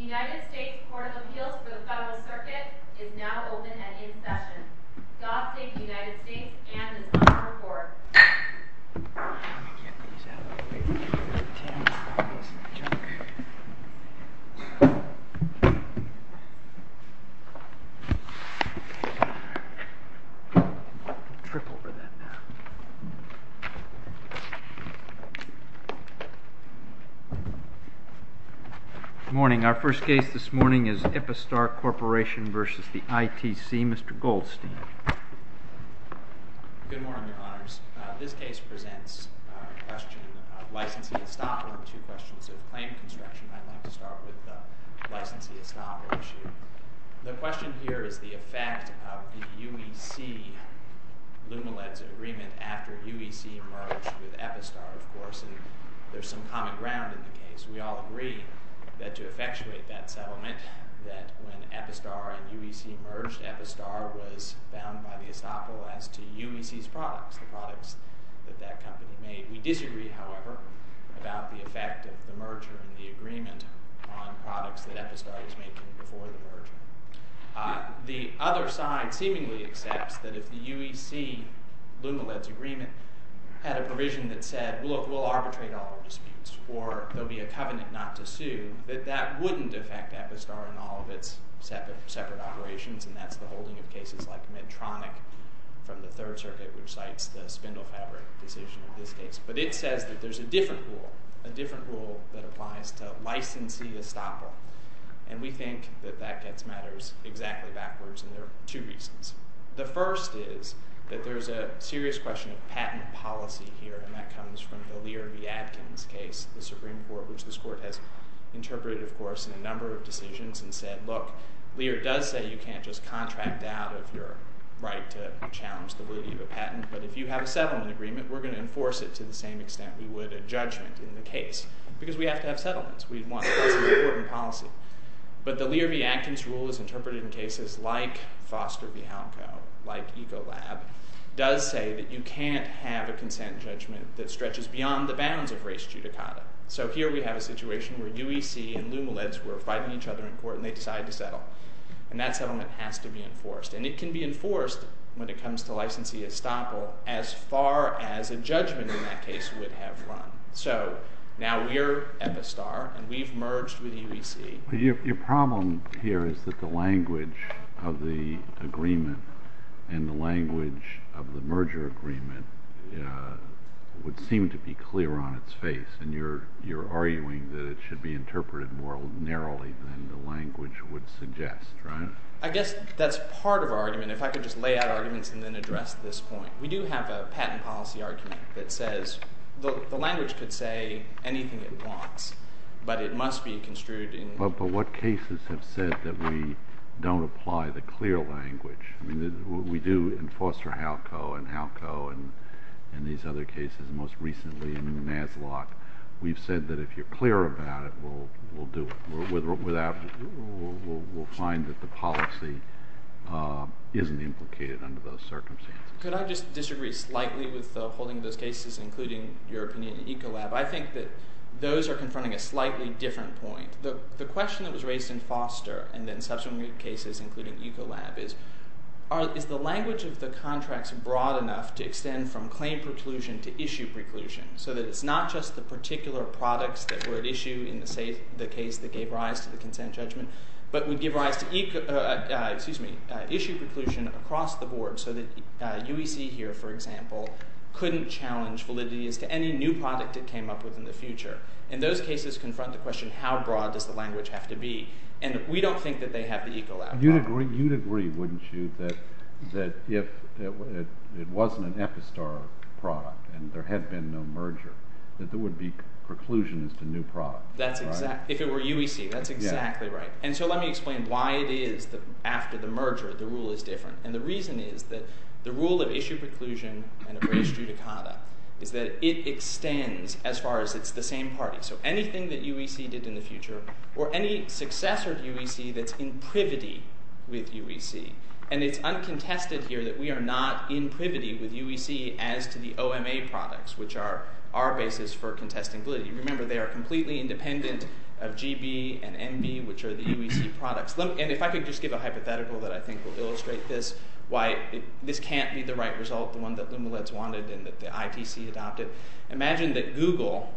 United States Court of Appeals for the Federal Circuit is now open and in session. God save the United States and an honorable court. Good morning. Our first case this morning is Epistar Corporation v. the ITC. Mr. Goldstein. Good morning, Your Honors. This case presents a question of licensee estoppel to questions of claim construction. I'd like to start with the licensee estoppel issue. The question here is the effect of the UEC-Lumileds agreement after UEC merged with Epistar, of course. And there's some common ground in the case. We all agree that to effectuate that settlement, that when Epistar and UEC merged, Epistar was bound by the estoppel as to UEC's products, the products that that company made. We disagree, however, about the effect of the merger and the agreement on products that Epistar was making before the merger. The other side seemingly accepts that if the UEC-Lumileds agreement had a provision that said, look, we'll arbitrate all disputes or there'll be a covenant not to sue, that that wouldn't affect Epistar in all of its separate operations. And that's the holding of cases like Medtronic from the Third Circuit, which cites the spindle fabric decision in this case. But it says that there's a different rule, a different rule that applies to licensee estoppel. And we think that that gets matters exactly backwards, and there are two reasons. The first is that there's a serious question of patent policy here, and that comes from the Lear v. Adkins case, the Supreme Court, which this Court has interpreted, of course, in a number of decisions and said, look, Lear does say you can't just contract out of your right to challenge the liberty of a patent, but if you have a settlement agreement, we're going to enforce it to the same extent we would a judgment in the case. Because we have to have settlements. That's an important policy. But the Lear v. Adkins rule is interpreted in cases like Foster v. Halco, like Ecolab, does say that you can't have a consent judgment that stretches beyond the bounds of race judicata. So here we have a situation where UEC and LumaLeds were fighting each other in court and they decided to settle. And that settlement has to be enforced. And it can be enforced when it comes to licensee estoppel as far as a judgment in that case would have run. So now we're Epistar and we've merged with UEC. Your problem here is that the language of the agreement and the language of the merger agreement would seem to be clear on its face. And you're arguing that it should be interpreted more narrowly than the language would suggest, right? I guess that's part of our argument. If I could just lay out arguments and then address this point. We do have a patent policy argument that says the language could say anything it wants, but it must be construed in— But what cases have said that we don't apply the clear language? I mean, we do in Foster v. Halco and Halco and these other cases, most recently in NASLOC. We've said that if you're clear about it, we'll do it. We'll find that the policy isn't implicated under those circumstances. Could I just disagree slightly with holding those cases, including your opinion in Ecolab? I think that those are confronting a slightly different point. The question that was raised in Foster and then subsequent cases, including Ecolab, is, is the language of the contracts broad enough to extend from claim preclusion to issue preclusion, so that it's not just the particular products that were at issue in the case that gave rise to the consent judgment, but would give rise to issue preclusion across the board so that UEC here, for example, couldn't challenge validity as to any new product it came up with in the future. And those cases confront the question, how broad does the language have to be? And we don't think that they have the Ecolab— You'd agree, wouldn't you, that if it wasn't an Epistar product and there had been no merger, that there would be preclusion as to new product, right? If it were UEC, that's exactly right. And so let me explain why it is that after the merger the rule is different. And the reason is that the rule of issue preclusion and appraised judicata is that it extends as far as it's the same party. So anything that UEC did in the future or any successor to UEC that's in privity with UEC. And it's uncontested here that we are not in privity with UEC as to the OMA products, which are our basis for contesting validity. Remember, they are completely independent of GB and MB, which are the UEC products. And if I could just give a hypothetical that I think will illustrate this, why this can't be the right result, the one that Lumileds wanted and that the ITC adopted. Imagine that Google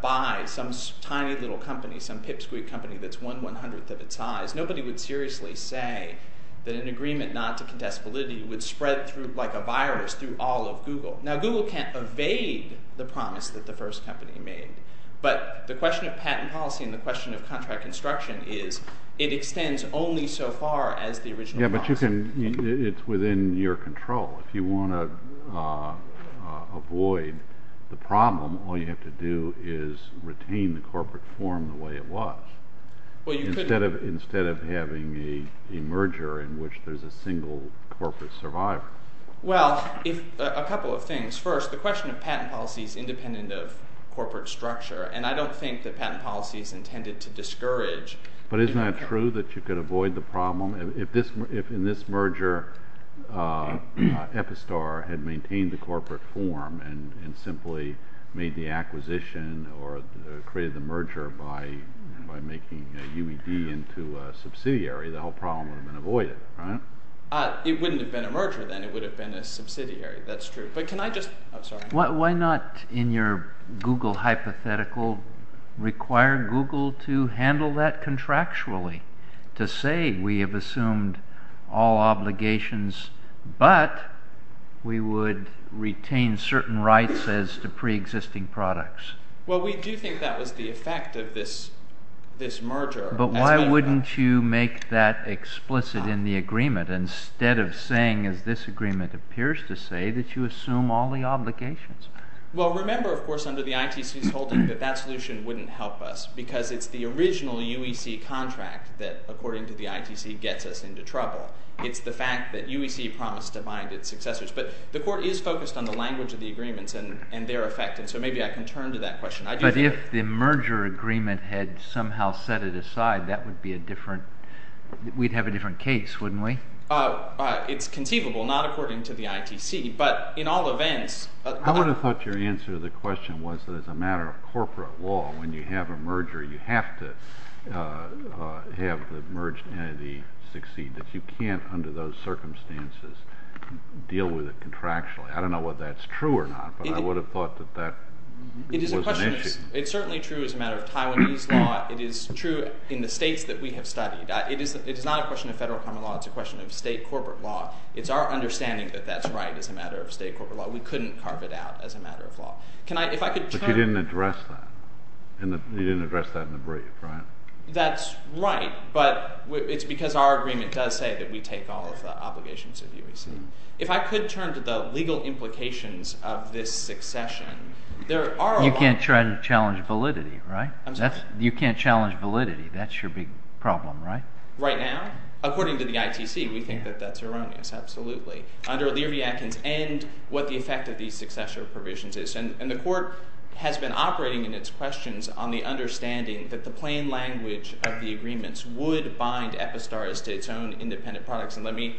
buys some tiny little company, some pipsqueak company that's one one-hundredth of its size. Nobody would seriously say that an agreement not to contest validity would spread through like a virus through all of Google. Now, Google can't evade the promise that the first company made. But the question of patent policy and the question of contract construction is it extends only so far as the original promise. Yeah, but you can – it's within your control. If you want to avoid the problem, all you have to do is retain the corporate form the way it was instead of having a merger in which there's a single corporate survivor. Well, a couple of things. First, the question of patent policy is independent of corporate structure, and I don't think that patent policy is intended to discourage. But isn't that true, that you could avoid the problem? If in this merger Epistar had maintained the corporate form and simply made the acquisition or created the merger by making UED into a subsidiary, the whole problem would have been avoided, right? It wouldn't have been a merger then. It would have been a subsidiary. That's true. But can I just – I'm sorry. Why not in your Google hypothetical require Google to handle that contractually, to say we have assumed all obligations but we would retain certain rights as to preexisting products? Well, we do think that was the effect of this merger. But why wouldn't you make that explicit in the agreement instead of saying, as this agreement appears to say, that you assume all the obligations? Well, remember, of course, under the ITC's holding that that solution wouldn't help us because it's the original UEC contract that, according to the ITC, gets us into trouble. It's the fact that UEC promised to bind its successors. But the court is focused on the language of the agreements and their effect, and so maybe I can turn to that question. But if the merger agreement had somehow set it aside, that would be a different – we'd have a different case, wouldn't we? It's conceivable, not according to the ITC. But in all events – I would have thought your answer to the question was that as a matter of corporate law, when you have a merger, you have to have the merged entity succeed. That you can't, under those circumstances, deal with it contractually. I don't know whether that's true or not, but I would have thought that that was an issue. It's certainly true as a matter of Taiwanese law. It is true in the states that we have studied. It is not a question of federal common law. It's a question of state corporate law. It's our understanding that that's right as a matter of state corporate law. We couldn't carve it out as a matter of law. But you didn't address that. You didn't address that in the brief, right? That's right, but it's because our agreement does say that we take all of the obligations of UEC. If I could turn to the legal implications of this succession, there are – You can't try to challenge validity, right? You can't challenge validity. That's your big problem, right? Right now, according to the ITC, we think that that's erroneous, absolutely, under Lear v. Atkins and what the effect of these successor provisions is. And the court has been operating in its questions on the understanding that the plain language of the agreements would bind Epistars to its own independent products. And let me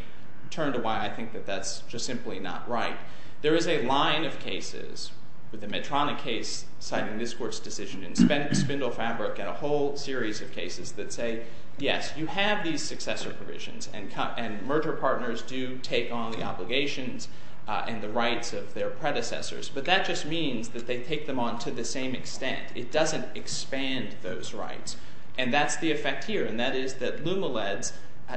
turn to why I think that that's just simply not right. There is a line of cases with the Medtronic case citing this court's decision and Spindle Fabric and a whole series of cases that say, yes, you have these successor provisions. And merger partners do take on the obligations and the rights of their predecessors. But that just means that they take them on to the same extent. It doesn't expand those rights. And that's the effect here, and that is that LumaLeds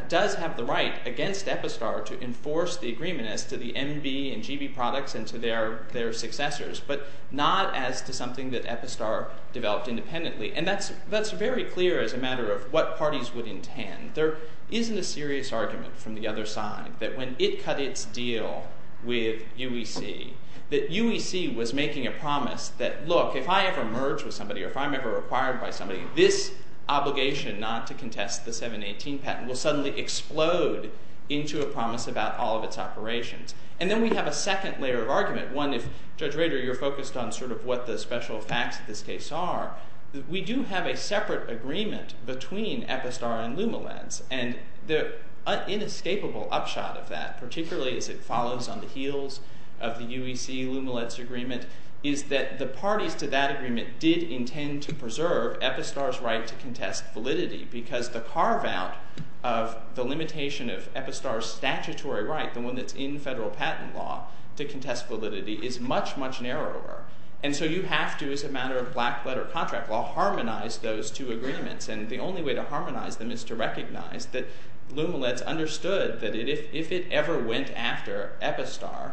does have the right against Epistar to enforce the agreement as to the MB and GB products and to their successors, but not as to something that Epistar developed independently. And that's very clear as a matter of what parties would intend. There isn't a serious argument from the other side that when ITC cut its deal with UEC that UEC was making a promise that, look, if I ever merge with somebody or if I'm ever acquired by somebody, this obligation not to contest the 718 patent will suddenly explode into a promise about all of its operations. And then we have a second layer of argument, one if, Judge Rader, you're focused on sort of what the special facts of this case are. We do have a separate agreement between Epistar and LumaLeds. And the inescapable upshot of that, particularly as it follows on the heels of the UEC-LumaLeds agreement, is that the parties to that agreement did intend to preserve Epistar's right to contest validity because the carve-out of the limitation of Epistar's statutory right, the one that's in federal patent law, to contest validity is much, much narrower. And so you have to, as a matter of black-letter contract law, harmonize those two agreements. And the only way to harmonize them is to recognize that LumaLeds understood that if it ever went after Epistar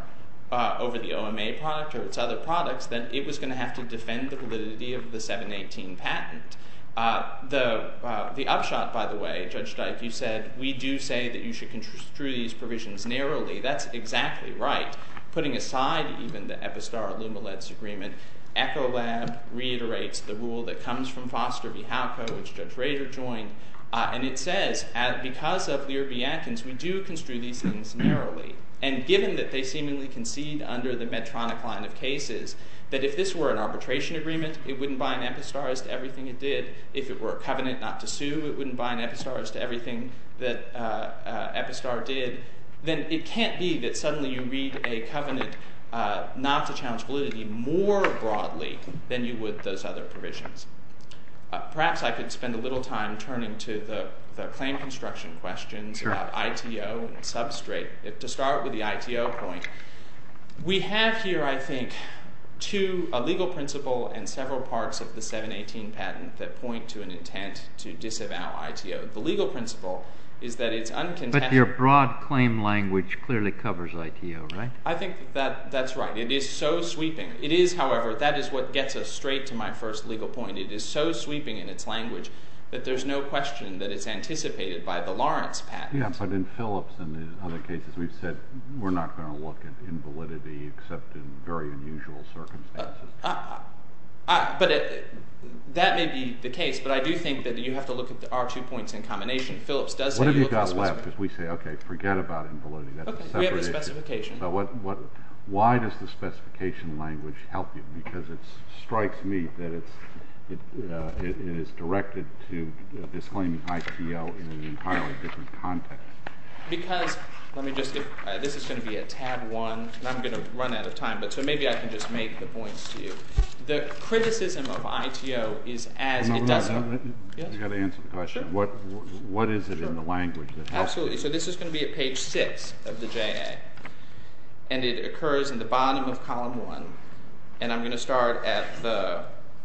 over the OMA product or its other products, then it was going to have to defend the validity of the 718 patent. The upshot, by the way, Judge Dyke, you said, we do say that you should construe these provisions narrowly. That's exactly right. Putting aside even the Epistar-LumaLeds agreement, Echolab reiterates the rule that comes from Foster v. Hauko, which Judge Rader joined. And it says, because of Lear v. Atkins, we do construe these things narrowly. And given that they seemingly concede under the Medtronic line of cases that if this were an arbitration agreement, it wouldn't bind Epistar as to everything it did. If it were a covenant not to sue, it wouldn't bind Epistar as to everything that Epistar did. Then it can't be that suddenly you read a covenant not to challenge validity more broadly than you would those other provisions. Perhaps I could spend a little time turning to the claim construction questions about ITO and substrate. To start with the ITO point, we have here, I think, a legal principle and several parts of the 718 patent that point to an intent to disavow ITO. The legal principle is that it's uncontested. But your broad claim language clearly covers ITO, right? I think that's right. It is so sweeping. It is, however. That is what gets us straight to my first legal point. It is so sweeping in its language that there's no question that it's anticipated by the Lawrence patent. Yeah, but in Phillips and in other cases we've said we're not going to look at invalidity except in very unusual circumstances. But that may be the case. But I do think that you have to look at the R2 points in combination. Phillips does say you look at – What have you got left? Because we say, okay, forget about invalidity. Okay, we have the specification. Why does the specification language help you? Because it strikes me that it is directed to disclaim ITO in an entirely different context. Because – let me just – this is going to be at tab one. I'm going to run out of time, but so maybe I can just make the points to you. The criticism of ITO is as it does – No, no, no. You've got to answer the question. Sure. What is it in the language that helps you? Absolutely. So this is going to be at page six of the JA, and it occurs in the bottom of column one. And I'm going to start at the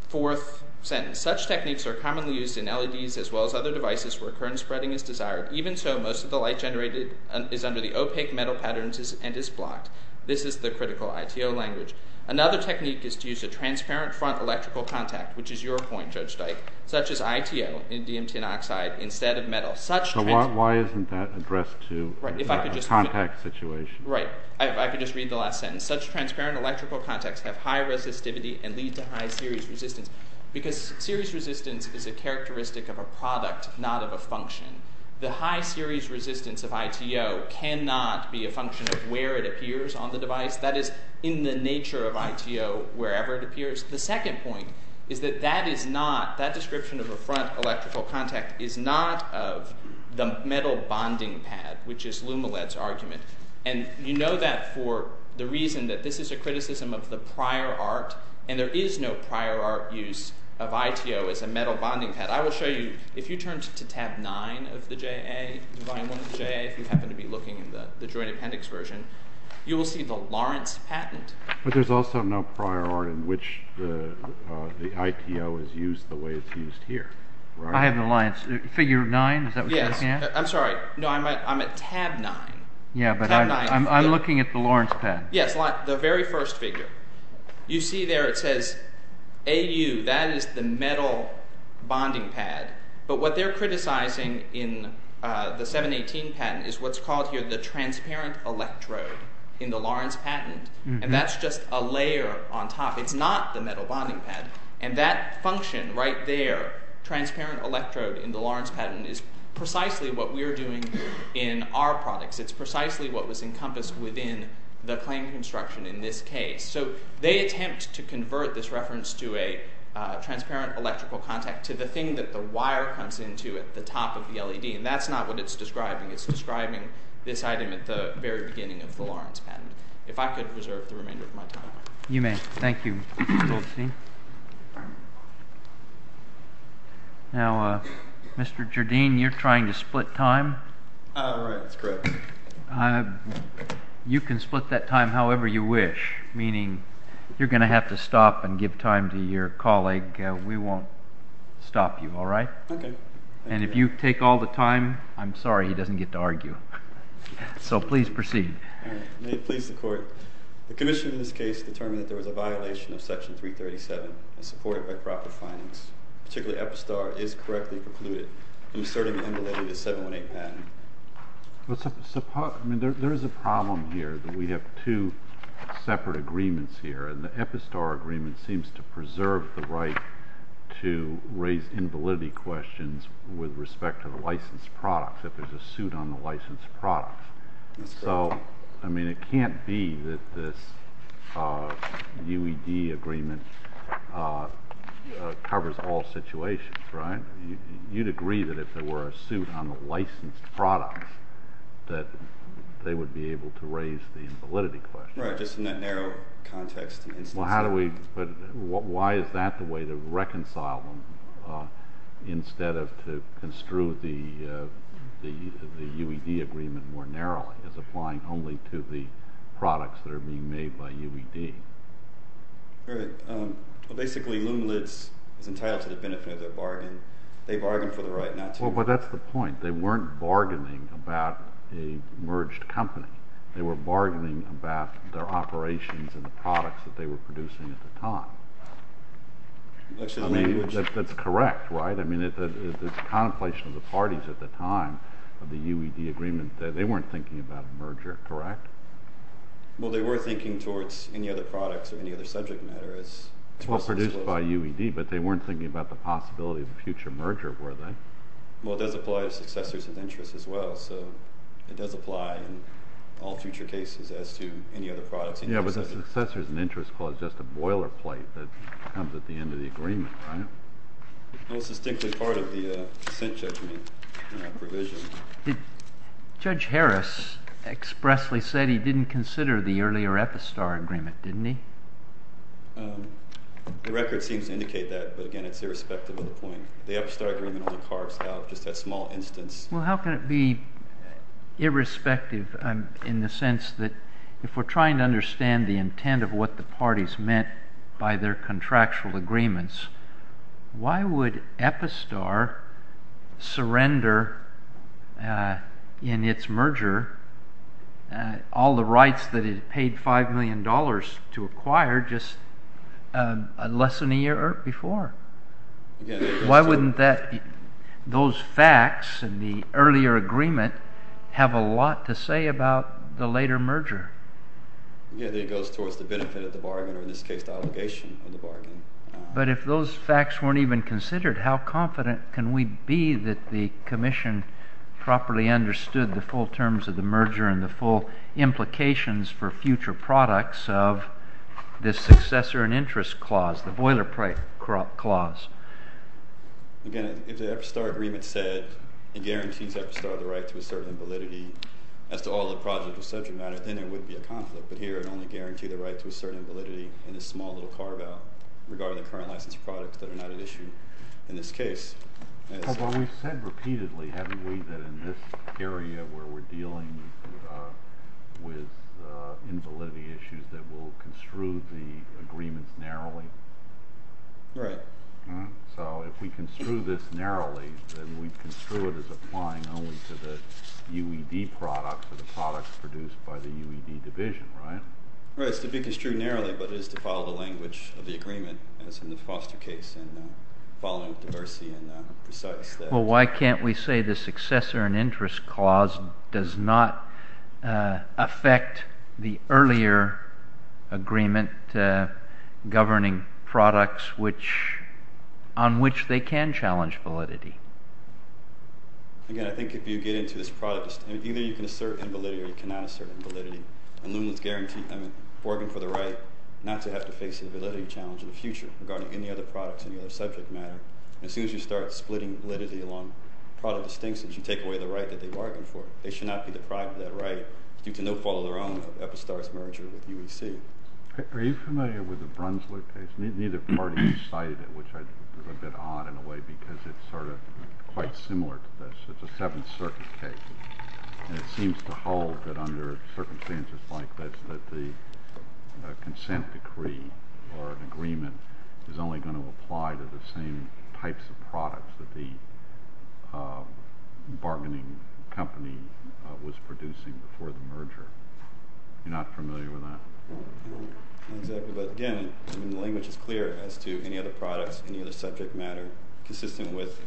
fourth sentence. Such techniques are commonly used in LEDs as well as other devices where current spreading is desired. Even so, most of the light generated is under the opaque metal patterns and is blocked. This is the critical ITO language. Another technique is to use a transparent front electrical contact, which is your point, Judge Dike, such as ITO in DMT and oxide instead of metal. So why isn't that addressed to a contact situation? Right. I could just read the last sentence. Such transparent electrical contacts have high resistivity and lead to high series resistance. Because series resistance is a characteristic of a product, not of a function. The high series resistance of ITO cannot be a function of where it appears on the device. That is in the nature of ITO wherever it appears. The second point is that that description of a front electrical contact is not of the metal bonding pad, which is LumaLED's argument. And you know that for the reason that this is a criticism of the prior art, and there is no prior art use of ITO as a metal bonding pad. I will show you. If you turn to tab nine of the volume one of the JA, if you happen to be looking in the joint appendix version, you will see the Lawrence patent. But there is also no prior art in which the ITO is used the way it is used here. I have an alliance. Figure nine, is that what you're looking at? Yes. I'm sorry. No, I'm at tab nine. Yeah, but I'm looking at the Lawrence patent. Yes, the very first figure. You see there it says AU. That is the metal bonding pad. But what they're criticizing in the 718 patent is what's called here the transparent electrode in the Lawrence patent. And that's just a layer on top. It's not the metal bonding pad. And that function right there, transparent electrode in the Lawrence patent, is precisely what we're doing in our products. It's precisely what was encompassed within the claim construction in this case. So they attempt to convert this reference to a transparent electrical contact to the thing that the wire comes into at the top of the LED. And that's not what it's describing. It's describing this item at the very beginning of the Lawrence patent. If I could reserve the remainder of my time. You may. Thank you, Goldstein. Now, Mr. Jardine, you're trying to split time. Oh, right. That's correct. You can split that time however you wish, meaning you're going to have to stop and give time to your colleague. We won't stop you, all right? OK. And if you take all the time, I'm sorry he doesn't get to argue. So please proceed. May it please the court. The commission in this case determined that there was a violation of Section 337 and supported by proper finance. Particularly Epistar is correctly precluded, inserting the invalidity of the 718 patent. There is a problem here that we have two separate agreements here. And the Epistar agreement seems to preserve the right to raise invalidity questions with respect to the licensed product, if there's a suit on the licensed product. So, I mean, it can't be that this UED agreement covers all situations, right? You'd agree that if there were a suit on the licensed product that they would be able to raise the invalidity question. Right, just in that narrow context. Well, how do we – why is that the way to reconcile them instead of to construe the UED agreement more narrowly as applying only to the products that are being made by UED? All right. Well, basically, Lumiliz is entitled to the benefit of their bargain. They bargained for the right not to. Well, but that's the point. They weren't bargaining about a merged company. They were bargaining about their operations and the products that they were producing at the time. I mean, that's correct, right? I mean, it's a contemplation of the parties at the time of the UED agreement that they weren't thinking about a merger, correct? Well, they were thinking towards any other products or any other subject matter as – Well, produced by UED, but they weren't thinking about the possibility of a future merger, were they? Well, it does apply to successors of interest as well. So it does apply in all future cases as to any other products. Yeah, but the successors of interest clause is just a boilerplate that comes at the end of the agreement, right? Well, it's distinctly part of the dissent judgment provision. Judge Harris expressly said he didn't consider the earlier Epistar agreement, didn't he? The record seems to indicate that, but, again, it's irrespective of the point. The Epistar agreement only carves out just that small instance. Well, how can it be irrespective in the sense that if we're trying to understand the intent of what the parties meant by their contractual agreements, why would Epistar surrender in its merger all the rights that it had paid $5 million to acquire just less than a year before? Why wouldn't those facts in the earlier agreement have a lot to say about the later merger? Again, it goes towards the benefit of the bargain, or in this case, the allegation of the bargain. But if those facts weren't even considered, how confident can we be that the commission properly understood the full terms of the merger and the full implications for future products of this successor and interest clause, the boilerplate clause? Again, if the Epistar agreement said it guarantees Epistar the right to assert invalidity as to all the projects of such and that, then there would be a conflict. But here it only guaranteed the right to assert invalidity in this small little carve-out regarding the current license products that are not at issue in this case. Well, we've said repeatedly, haven't we, that in this area where we're dealing with invalidity issues that we'll construe the agreements narrowly? Right. So if we construe this narrowly, then we construe it as applying only to the UED products or the products produced by the UED division, right? Right. It's to be construed narrowly, but it is to follow the language of the agreement, as in the Foster case, and following with diversity and precise. Well, why can't we say the successor and interest clause does not affect the earlier agreement governing products on which they can challenge validity? Again, I think if you get into this product, either you can assert invalidity or you cannot assert invalidity. And Loomis guaranteed them a bargain for the right not to have to face a validity challenge in the future regarding any other products in the other subject matter. And as soon as you start splitting validity along product distinctions, you take away the right that they bargained for. They should not be deprived of that right due to no fault of their own of Epistar's merger with UEC. Are you familiar with the Brunswick case? Neither party cited it, which I think is a bit odd in a way because it's sort of quite similar to this. It's a Seventh Circuit case, and it seems to hold that under circumstances like this that the consent decree or an agreement is only going to apply to the same types of products that the bargaining company was producing before the merger. You're not familiar with that? Not exactly, but again, I mean, the language is clear as to any other products, any other subject matter, consistent with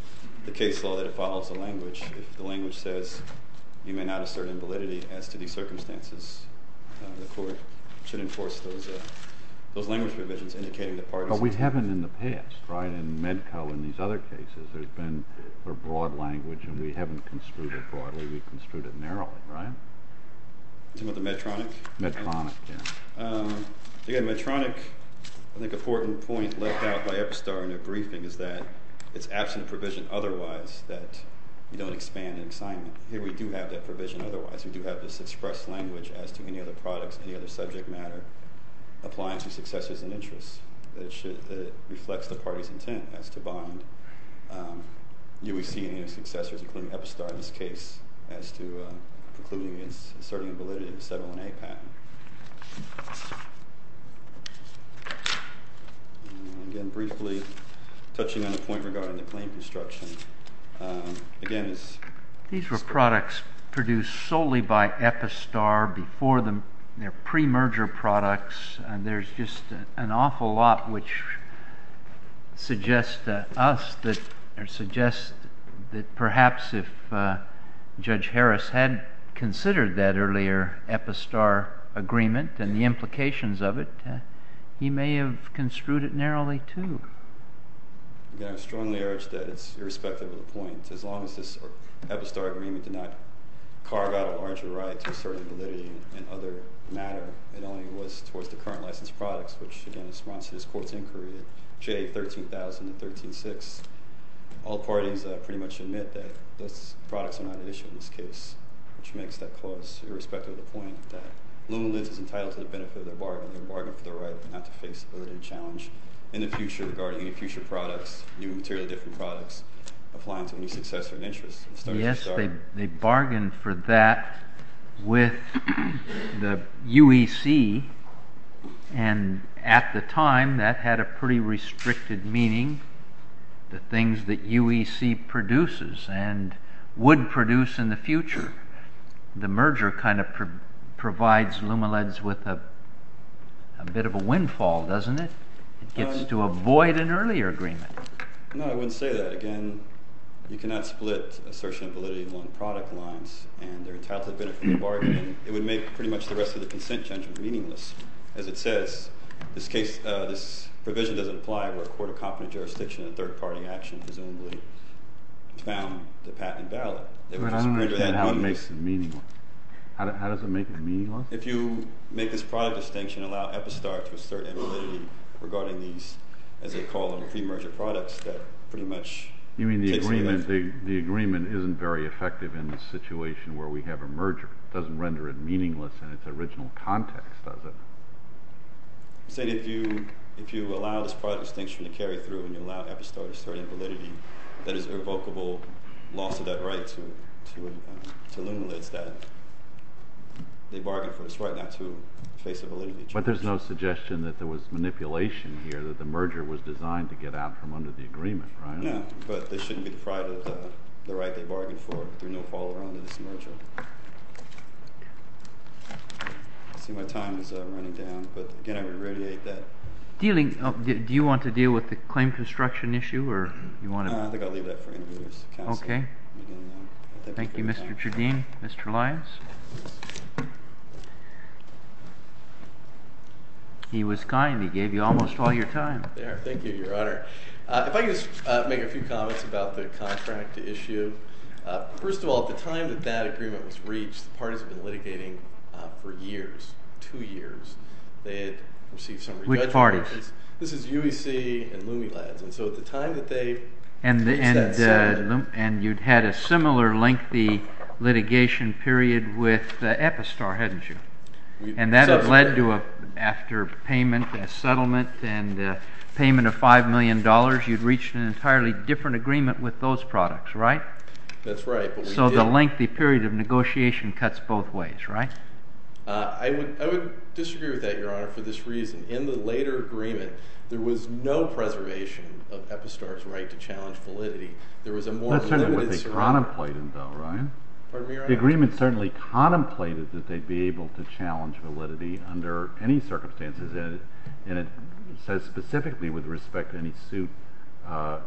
the case law that it follows the language. If the language says you may not assert invalidity as to these circumstances, the court should enforce those language provisions indicating that parties— But we haven't in the past, right? In Medco and these other cases, there's been a broad language, and we haven't construed it broadly. We've construed it narrowly, right? Some of the Medtronic? Medtronic, yeah. Again, Medtronic, I think an important point left out by Epistar in their briefing is that it's absent a provision otherwise that you don't expand an assignment. Here we do have that provision otherwise. We do have this expressed language as to any other products, any other subject matter, applying to successors and interests. It reflects the party's intent as to bind UEC and U.S. successors, including Epistar in this case, as to concluding against asserting invalidity to settle an A patent. Again, briefly, touching on the point regarding the claim construction. Again, it's— These were products produced solely by Epistar before their pre-merger products, and there's just an awful lot which suggests to us that perhaps if Judge Harris had considered that earlier Epistar agreement and the implications of it, he may have construed it narrowly, too. Again, I strongly urge that it's irrespective of the point. As long as this Epistar agreement did not carve out a larger right to assert invalidity in other matter, it only was towards the current licensed products, which, again, responds to this court's inquiry, J13000 and 13-6. All parties pretty much admit that those products are not at issue in this case, which makes that clause irrespective of the point that Lula-Lenz is entitled to the benefit of their bargain, their bargain for the right not to face a burdened challenge in the future regarding any future products, new material, different products, applying to any successor and interests. Yes, they bargained for that with the UEC, and at the time that had a pretty restricted meaning, the things that UEC produces and would produce in the future. The merger kind of provides Lula-Lenz with a bit of a windfall, doesn't it? It gets to avoid an earlier agreement. No, I wouldn't say that. Again, you cannot split assertion of validity along product lines and their entitled to the benefit of the bargain. It would make pretty much the rest of the consent judgment meaningless. As it says, this provision doesn't apply where a court of competent jurisdiction and third-party action presumably found the patent valid. But I don't understand how it makes it meaningless. How does it make it meaningless? If you make this product distinction and allow Epistar to assert invalidity regarding these, as they call them, pre-merger products, that pretty much takes away that. You mean the agreement isn't very effective in the situation where we have a merger? It doesn't render it meaningless in its original context, does it? I said if you allow this product distinction to carry through and you allow Epistar to assert invalidity, that is a revocable loss of that right to Lula-Lenz that they bargained for. It's right not to face a validity judgment. But there's no suggestion that there was manipulation here, that the merger was designed to get out from under the agreement, right? No, but this shouldn't be deprived of the right they bargained for through no follow-on to this merger. I see my time is running down, but again, I would radiate that. Do you want to deal with the claim construction issue? I think I'll leave that for any of you to counsel. Okay. Thank you, Mr. Jardim. Mr. Lyons? He was kind. He gave you almost all your time. Thank you, Your Honor. If I could just make a few comments about the contract to issue. First of all, at the time that that agreement was reached, the parties had been litigating for years, two years. They had received some re-judgment. Which parties? This is UEC and Lumi-Lenz. And so at the time that they reached that settlement— And you'd had a similar lengthy litigation period with Epistar, hadn't you? And that led to, after payment and settlement and payment of $5 million, you'd reached an entirely different agreement with those products, right? That's right. So the lengthy period of negotiation cuts both ways, right? I would disagree with that, Your Honor, for this reason. In the later agreement, there was no preservation of Epistar's right to challenge validity. That's certainly what they contemplated, though, right? Pardon me, Your Honor? The agreement certainly contemplated that they'd be able to challenge validity under any circumstances. And it says specifically with respect to any suit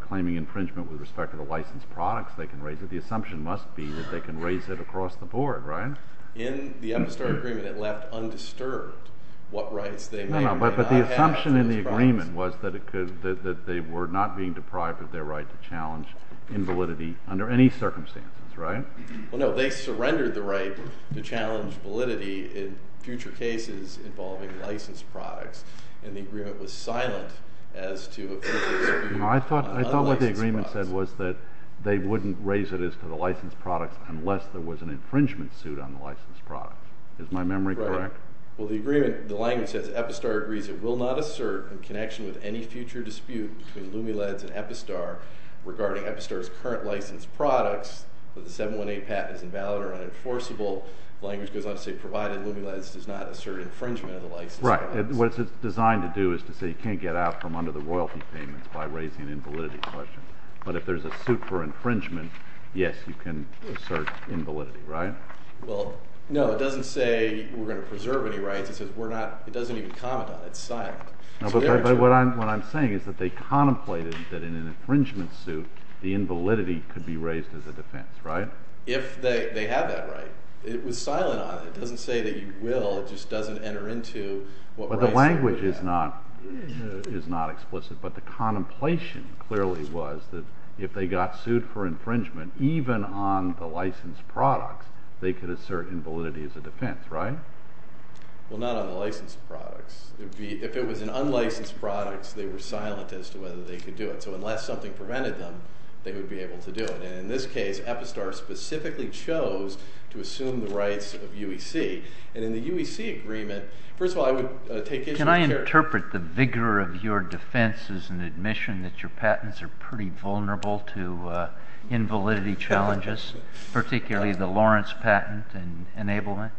claiming infringement with respect to the licensed products they can raise that the assumption must be that they can raise it across the board, right? In the Epistar agreement, it left undisturbed what rights they may or may not have to its products. But the assumption in the agreement was that they were not being deprived of their right to challenge invalidity under any circumstances, right? Well, no, they surrendered the right to challenge validity in future cases involving licensed products. And the agreement was silent as to if it would be unlicensed products. No, I thought what the agreement said was that they wouldn't raise it as to the licensed products unless there was an infringement suit on the licensed products. Is my memory correct? Right. Well, the agreement, the language says Epistar agrees it will not assert in connection with any future dispute between Lumileds and Epistar regarding Epistar's current licensed products that the 718 patent is invalid or unenforceable. The language goes on to say provided Lumileds does not assert infringement of the licensed products. Right. What it's designed to do is to say you can't get out from under the royalty payments by raising an invalidity question. But if there's a suit for infringement, yes, you can assert invalidity, right? Well, no, it doesn't say we're going to preserve any rights. It says we're not – it doesn't even comment on it. It's silent. But what I'm saying is that they contemplated that in an infringement suit the invalidity could be raised as a defense, right? If they have that right. It was silent on it. It doesn't say that you will. It just doesn't enter into what rights you have. But the language is not explicit. But the contemplation clearly was that if they got sued for infringement, even on the licensed products, they could assert invalidity as a defense, right? Well, not on the licensed products. If it was in unlicensed products, they were silent as to whether they could do it. So unless something prevented them, they would be able to do it. And in this case, Epistar specifically chose to assume the rights of UEC. And in the UEC agreement, first of all, I would take issue with – Can I interpret the vigor of your defense as an admission that your patents are pretty vulnerable to invalidity challenges, particularly the Lawrence patent and enablement?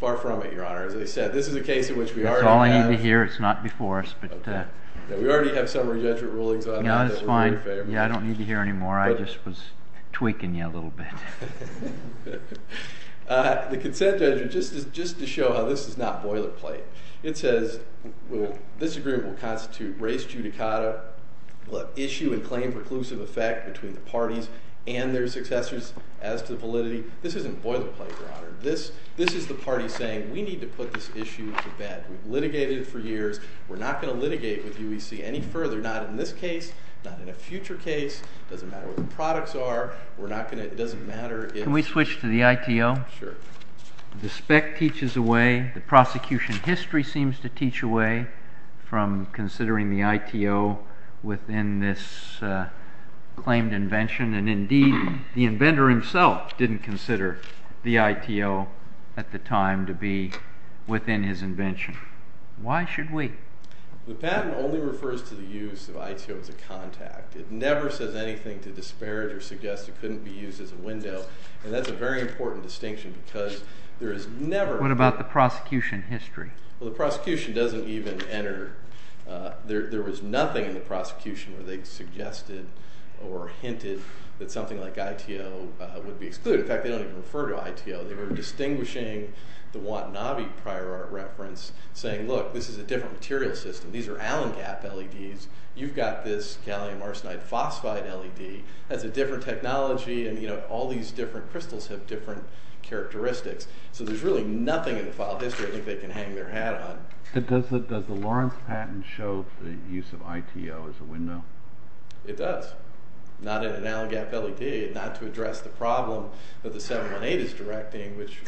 Far from it, Your Honor. As I said, this is a case in which we already have – That's all I need to hear. It's not before us. But – We already have summary judgment rulings on that. Yeah, that's fine. I don't need to hear any more. I just was tweaking you a little bit. The consent judgment, just to show how this is not boilerplate, it says this agreement will constitute race judicata. We'll have issue and claim preclusive effect between the parties and their successors as to validity. This isn't boilerplate, Your Honor. This is the party saying we need to put this issue to bed. We've litigated it for years. We're not going to litigate with UEC any further, not in this case, not in a future case. It doesn't matter what the products are. Can we switch to the ITO? Sure. The spec teaches away. The prosecution history seems to teach away from considering the ITO within this claimed invention. And, indeed, the inventor himself didn't consider the ITO at the time to be within his invention. Why should we? The patent only refers to the use of ITO as a contact. It never says anything to disparage or suggest it couldn't be used as a window. And that's a very important distinction because there is never— What about the prosecution history? Well, the prosecution doesn't even enter. There was nothing in the prosecution where they suggested or hinted that something like ITO would be excluded. In fact, they don't even refer to ITO. They were distinguishing the Watanabe prior art reference, saying, look, this is a different material system. These are Allen gap LEDs. You've got this gallium arsenide phosphide LED. That's a different technology. And, you know, all these different crystals have different characteristics. So there's really nothing in the file history I think they can hang their hat on. Does the Lawrence patent show the use of ITO as a window? It does. Not in an Allen gap LED, not to address the problem that the 718 is directing, which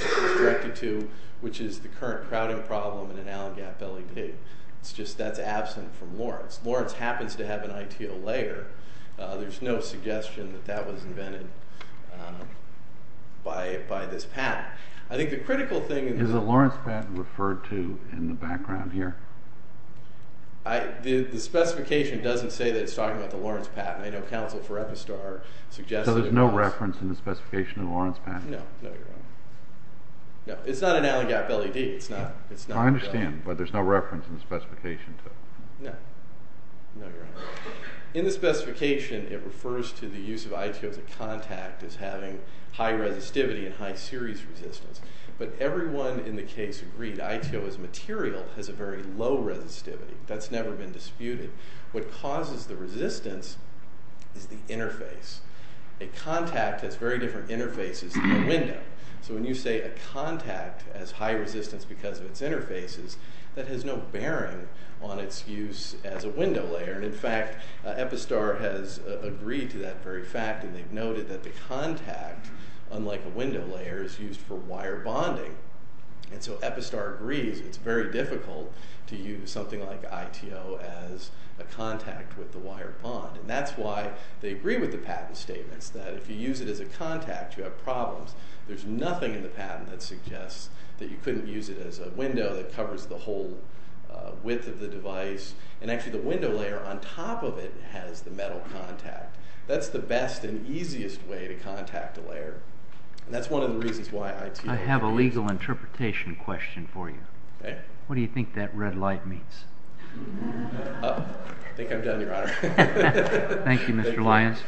is the current crowding problem in an Allen gap LED. It's just that's absent from Lawrence. Lawrence happens to have an ITO layer. There's no suggestion that that was invented by this patent. I think the critical thing— Is the Lawrence patent referred to in the background here? The specification doesn't say that it's talking about the Lawrence patent. I know counsel for Epistar suggested— So there's no reference in the specification of the Lawrence patent? No, no, you're wrong. No, it's not an Allen gap LED. I understand, but there's no reference in the specification. No, no, you're wrong. In the specification, it refers to the use of ITO as a contact as having high resistivity and high series resistance. But everyone in the case agreed ITO as material has a very low resistivity. That's never been disputed. What causes the resistance is the interface. A contact has very different interfaces than a window. When you say a contact has high resistance because of its interfaces, that has no bearing on its use as a window layer. In fact, Epistar has agreed to that very fact, and they've noted that the contact, unlike a window layer, is used for wire bonding. Epistar agrees it's very difficult to use something like ITO as a contact with the wire bond. That's why they agree with the patent statements that if you use it as a contact, you have problems. There's nothing in the patent that suggests that you couldn't use it as a window that covers the whole width of the device. Actually, the window layer on top of it has the metal contact. That's the best and easiest way to contact a layer. That's one of the reasons why ITO... I have a legal interpretation question for you. What do you think that red light means? I think I'm done, Your Honor. Thank you, Mr. Lyons.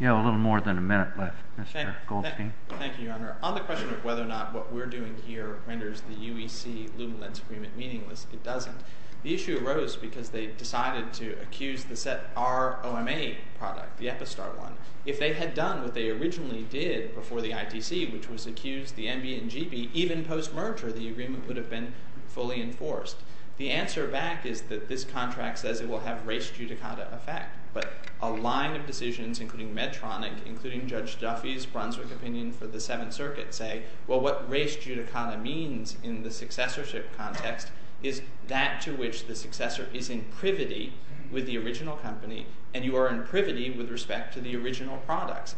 You have a little more than a minute left, Mr. Goldstein. Thank you, Your Honor. On the question of whether or not what we're doing here renders the UEC-Lumilenz agreement meaningless, it doesn't. The issue arose because they decided to accuse the Set-R OMA product, the Epistar one, if they had done what they originally did before the ITC, which was accuse the MB and GB, even post-merger the agreement would have been fully enforced. The answer back is that this contract says it will have race judicata effect, but a line of decisions, including Medtronic, including Judge Duffy's Brunswick opinion for the Seventh Circuit, say, well, what race judicata means in the successorship context is that to which the successor is in privity with the original company, and you are in privity with respect to the original products.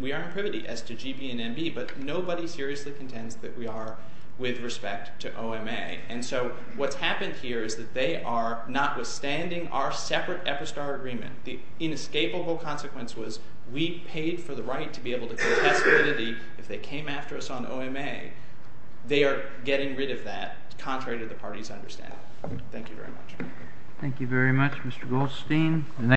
We are in privity as to GB and MB, but nobody seriously contends that we are with respect to OMA. And so what's happened here is that they are, notwithstanding our separate Epistar agreement, the inescapable consequence was we paid for the right to be able to contest divinity. If they came after us on OMA, they are getting rid of that, contrary to the party's understanding. Thank you very much. Thank you very much, Mr. Goldstein.